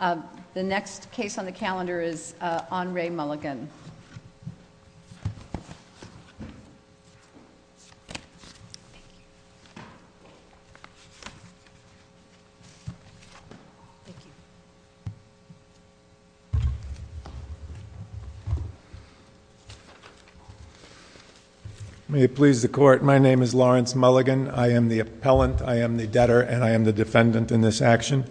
The next case on the calendar is on re Mulligan May it please the court. My name is Lawrence Mulligan. I am the appellant I am the debtor and I am the defendant in this action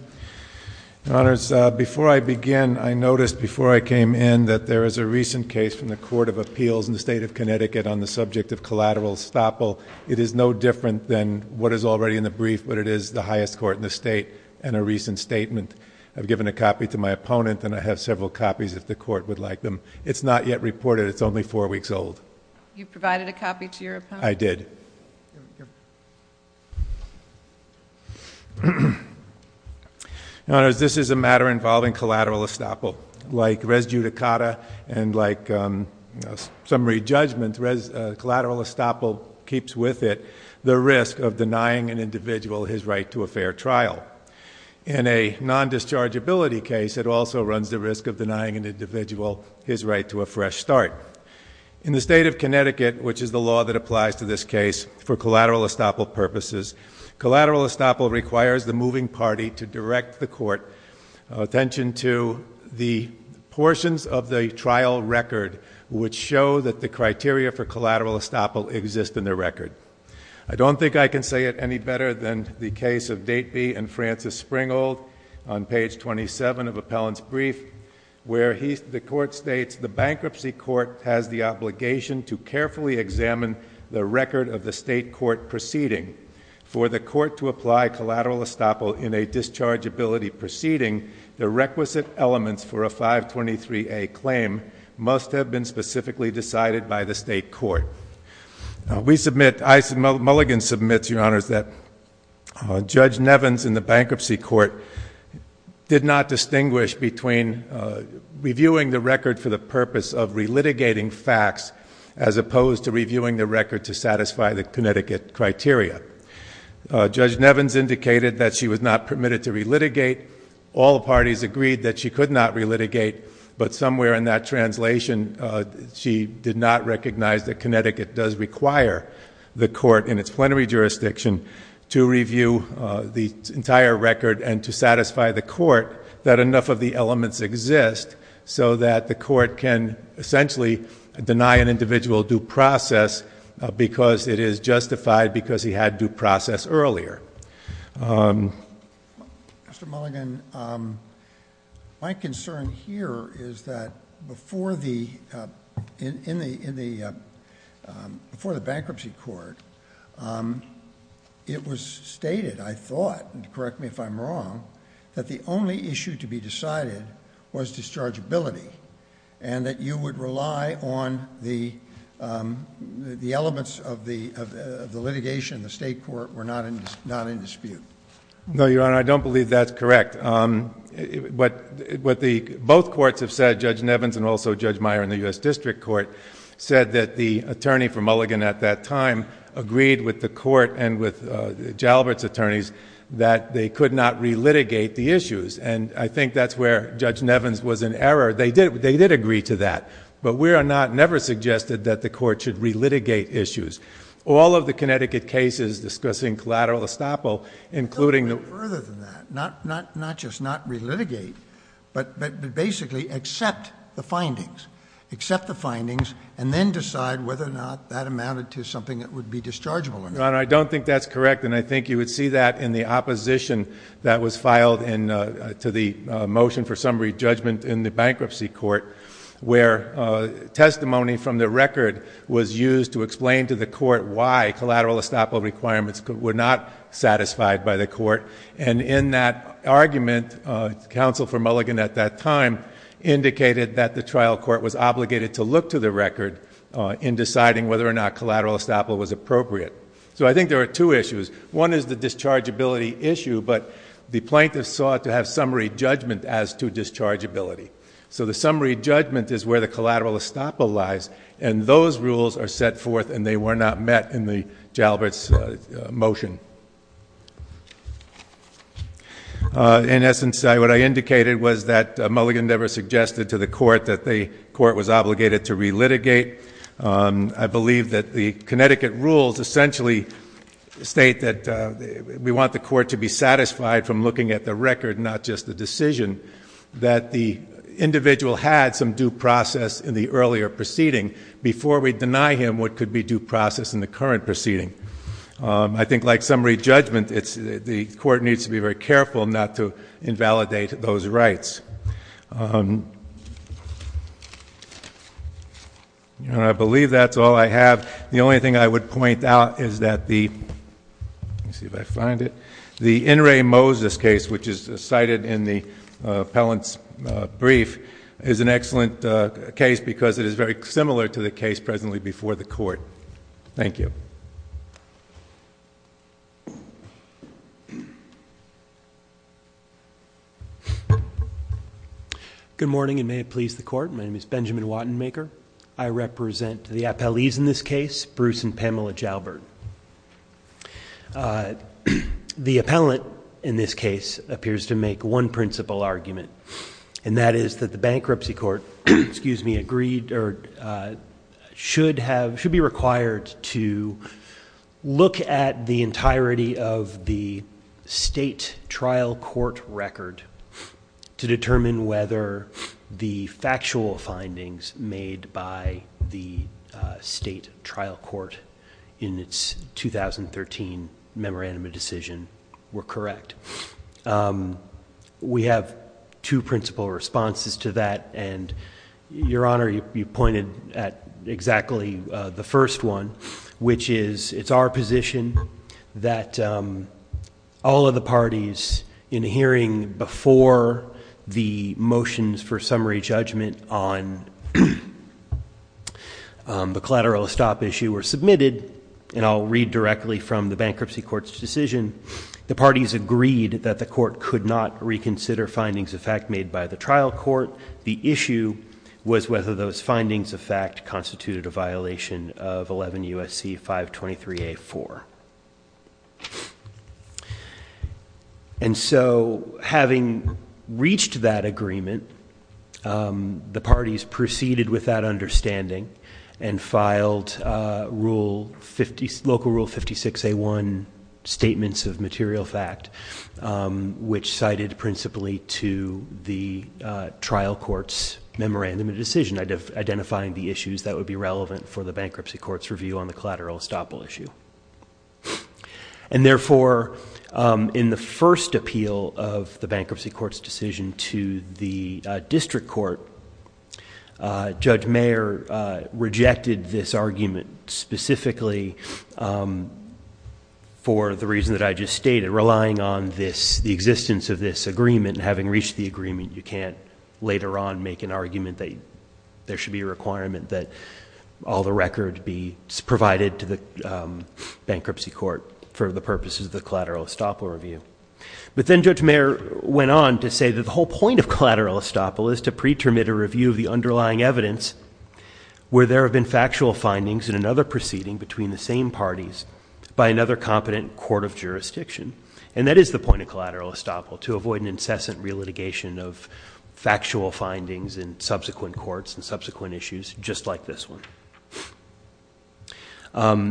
Your honors before I begin I noticed before I came in that there is a recent case from the Court of Appeals in the state Of Connecticut on the subject of collateral estoppel It is no different than what is already in the brief But it is the highest court in the state and a recent statement I've given a copy to my opponent and I have several copies if the court would like them. It's not yet reported It's only four weeks old. You provided a copy to your I did Your honors this is a matter involving collateral estoppel like res judicata and like summary judgment collateral estoppel keeps with it the risk of denying an individual his right to a fair trial In a non-dischargeability case it also runs the risk of denying an individual his right to a fresh start In the state of Connecticut which is the law that applies to this case for collateral estoppel purposes Collateral estoppel requires the moving party to direct the court attention to the portions of the trial record which show that the criteria for collateral estoppel exist in the record I don't think I can say it any better than the case of Dateby and Francis Springhold on page 27 of appellant's brief Where the court states the bankruptcy court has the obligation to carefully examine the record of the state court proceeding For the court to apply collateral estoppel in a dischargeability proceeding the requisite elements for a 523A claim must have been specifically decided by the state court We submit I submit Mulligan submits your honors that Judge Nevins in the bankruptcy court did not distinguish between reviewing the record for the purpose of relitigating facts as opposed to reviewing the record to satisfy the Connecticut criteria Judge Nevins indicated that she was not permitted to relitigate all parties agreed that she could not relitigate but somewhere in that translation she did not recognize that Connecticut does require the court in its plenary jurisdiction to review the entire record and to satisfy the court that enough of the elements exist So that the court can essentially deny an individual due process because it is justified because he had due process earlier Mr. Mulligan my concern here is that before the in the in the before the bankruptcy court it was stated I thought and correct me if I'm wrong that the only issue to be decided was dischargeability And that you would rely on the the elements of the of the litigation the state court were not in not in dispute No your honor I don't believe that's correct but what the both courts have said Judge Nevins and also Judge Meyer in the U.S. District Court said that the attorney for Mulligan at that time agreed with the court and with Jalbert's attorneys that they could not relitigate the issues And I think that's where Judge Nevins was in error they did they did agree to that but we are not never suggested that the court should relitigate issues all of the Connecticut cases discussing collateral estoppel including Further than that not not not just not relitigate but but basically accept the findings accept the findings and then decide whether or not that amounted to something that would be dischargeable Your honor I don't think that's correct and I think you would see that in the opposition that was filed in to the motion for summary judgment in the bankruptcy court where testimony from the record was used to explain to the court why collateral estoppel requirements were not satisfied by the court And in that argument counsel for Mulligan at that time indicated that the trial court was obligated to look to the record in deciding whether or not collateral estoppel was appropriate so I think there are two issues one is the discharge ability issue but the plaintiff sought to have summary judgment as to discharge ability So the summary judgment is where the collateral estoppel lies and those rules are set forth and they were not met in the Jalbert's motion In essence what I indicated was that Mulligan never suggested to the court that the court was obligated to relitigate I believe that the Connecticut rules essentially state that we want the court to be satisfied from looking at the record not just the decision that the individual had some due process in the earlier proceeding before we deny him what could be due process in the current proceeding I think like summary judgment the court needs to be very careful not to invalidate those rights I believe that's all I have the only thing I would point out is that the In re Moses case which is cited in the appellant's brief is an excellent case because it is very similar to the case presently before the court Thank you Good morning and may it please the court my name is Benjamin Wattenmaker I represent the appellees in this case Bruce and Pamela Jalbert The appellant in this case appears to make one principle argument and that is that the bankruptcy court excuse me agreed or should have should be required to look at the entirety of the state trial court record To determine whether the factual findings made by the state trial court in its 2013 memorandum of decision were correct We have two principle responses to that and your honor you pointed at exactly the first one which is it's our position that all of the parties in hearing before the motions for summary judgment on The collateral stop issue were submitted and I'll read directly from the bankruptcy court's decision the parties agreed that the court could not reconsider findings of fact made by the trial court the issue was whether those findings of fact constituted a violation of 11 USC 523 A4 And so having reached that agreement the parties proceeded without understanding and filed rule 50 local rule 56 A1 statements of material fact which cited principally to the trial court's memorandum of decision identifying the issues that would be relevant for the bankruptcy court's review on the collateral estoppel issue And therefore in the first appeal of the bankruptcy court's decision to the district court judge mayor rejected this argument specifically for the reason that I just stated relying on this the existence of this agreement having reached the agreement you can't later on make an argument that there should be a requirement that all the record be provided to the Bankruptcy court for the purposes of the collateral estoppel review but then judge mayor went on to say that the whole point of collateral estoppel is to preterm it a review of the underlying evidence Where there have been factual findings in another proceeding between the same parties by another competent court of jurisdiction and that is the point of collateral estoppel to avoid an incessant relitigation of factual findings in subsequent courts and subsequent issues just like this one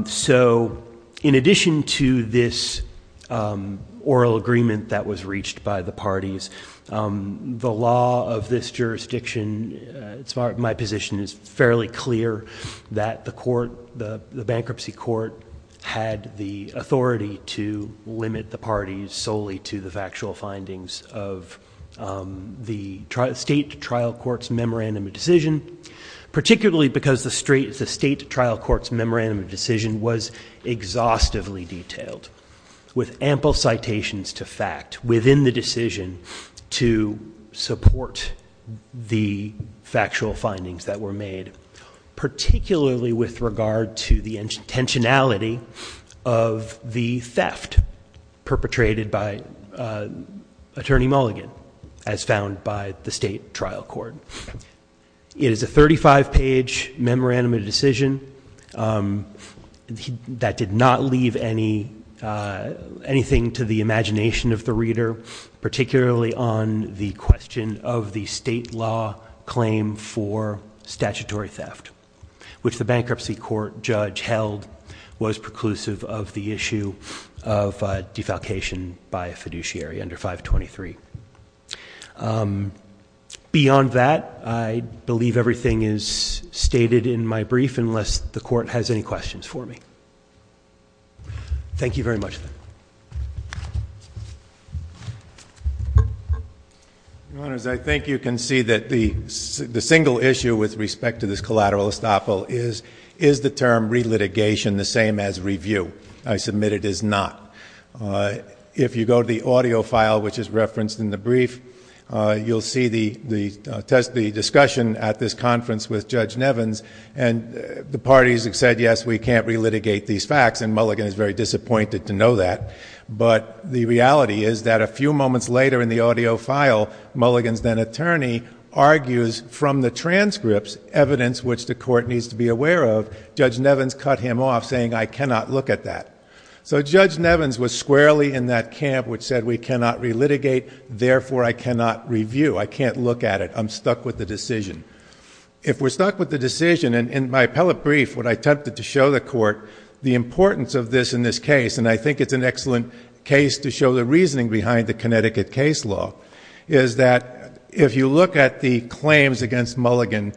So in addition to this oral agreement that was reached by the parties the law of this jurisdiction my position is fairly clear that the court the bankruptcy court had the authority to limit the parties solely to the factual findings of the state trial court's memorandum of decision Particularly because the state trial court's memorandum of decision was exhaustively detailed with ample citations to fact within the decision to support the factual findings that were made particularly with regard to the intentionality of the theft perpetrated by attorney Mulligan as found by the state trial court It is a 35 page memorandum of decision that did not leave anything to the imagination of the reader particularly on the question of the state law claim for statutory theft which the bankruptcy court judge held was preclusive of the issue of defalcation by a fiduciary under 523 Beyond that I believe everything is stated in my brief unless the court has any questions for me Thank you very much Your honors I think you can see that the single issue with respect to this collateral estoppel is the term relitigation the same as review I submit it is not If you go to the audio file which is referenced in the brief you'll see the discussion at this conference with Judge Nevins and the parties have said yes we can't relitigate these facts and Mulligan is very disappointed to know that But the reality is that a few moments later in the audio file Mulligan's then attorney argues from the transcripts evidence which the court needs to be aware of Judge Nevins cut him off saying I cannot look at that So Judge Nevins was squarely in that camp which said we cannot relitigate therefore I cannot review I can't look at it I'm stuck with the decision If we're stuck with the decision in my appellate brief when I attempted to show the court the importance of this in this case and I think it's an excellent case to show the reasoning behind the Connecticut case law Is that if you look at the claims against Mulligan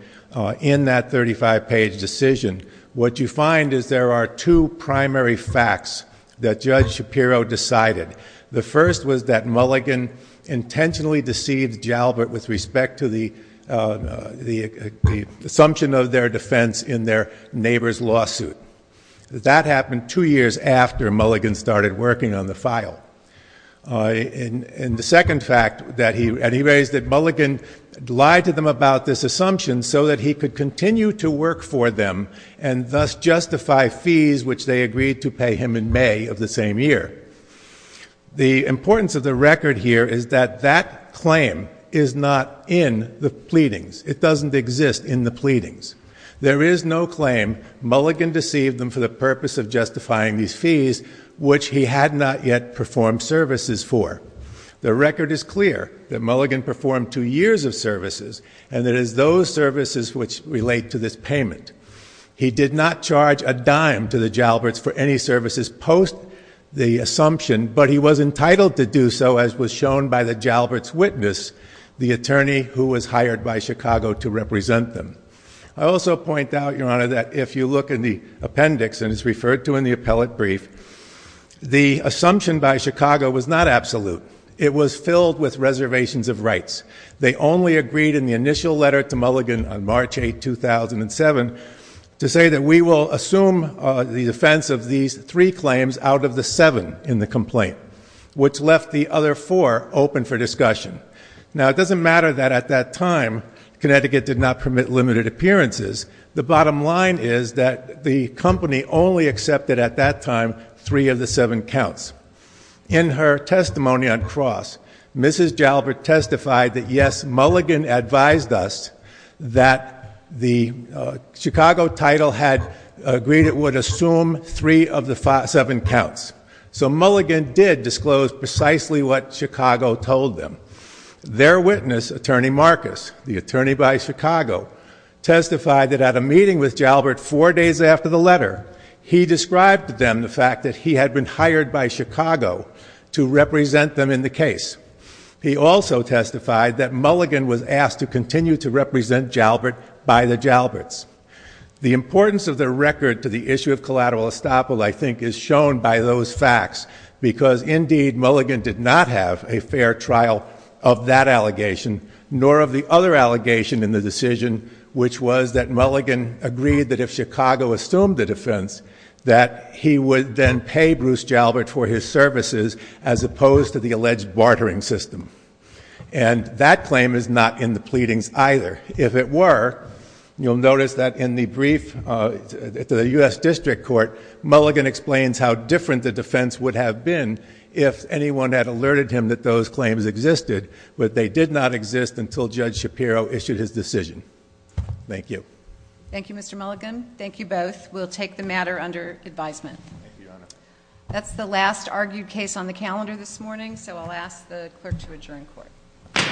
in that 35 page decision what you find is there are two primary facts that Judge Shapiro decided The first was that Mulligan intentionally deceived Jalbert with respect to the assumption of their defense in their neighbor's lawsuit That happened two years after Mulligan started working on the file And the second fact that he raised that Mulligan lied to them about this assumption so that he could continue to work for them and thus justify fees which they agreed to pay him in May of the same year The importance of the record here is that that claim is not in the pleadings it doesn't exist in the pleadings There is no claim Mulligan deceived them for the purpose of justifying these fees which he had not yet performed services for The record is clear that Mulligan performed two years of services and it is those services which relate to this payment He did not charge a dime to the Jalbert's for any services post the assumption but he was entitled to do so as was shown by the Jalbert's witness The attorney who was hired by Chicago to represent them I also point out your honor that if you look in the appendix and it's referred to in the appellate brief The assumption by Chicago was not absolute it was filled with reservations of rights They only agreed in the initial letter to Mulligan on March 8, 2007 To say that we will assume the defense of these three claims out of the seven in the complaint Which left the other four open for discussion Now it doesn't matter that at that time Connecticut did not permit limited appearances The bottom line is that the company only accepted at that time three of the seven counts In her testimony on cross Mrs. Jalbert testified that yes Mulligan advised us That the Chicago title had agreed it would assume three of the seven counts So Mulligan did disclose precisely what Chicago told them Their witness attorney Marcus the attorney by Chicago testified that at a meeting with Jalbert four days after the letter He described to them the fact that he had been hired by Chicago to represent them in the case He also testified that Mulligan was asked to continue to represent Jalbert by the Jalbert's The importance of their record to the issue of collateral estoppel I think is shown by those facts Because indeed Mulligan did not have a fair trial of that allegation Nor of the other allegation in the decision which was that Mulligan agreed that if Chicago assumed the defense That he would then pay Bruce Jalbert for his services as opposed to the alleged bartering system And that claim is not in the pleadings either If it were you'll notice that in the brief to the U.S. District Court Mulligan explains How different the defense would have been if anyone had alerted him that those claims existed But they did not exist until Judge Shapiro issued his decision Thank you Thank you Mr. Mulligan thank you both we'll take the matter under advisement That's the last argued case on the calendar this morning so I'll ask the clerk to adjourn court Court is adjourned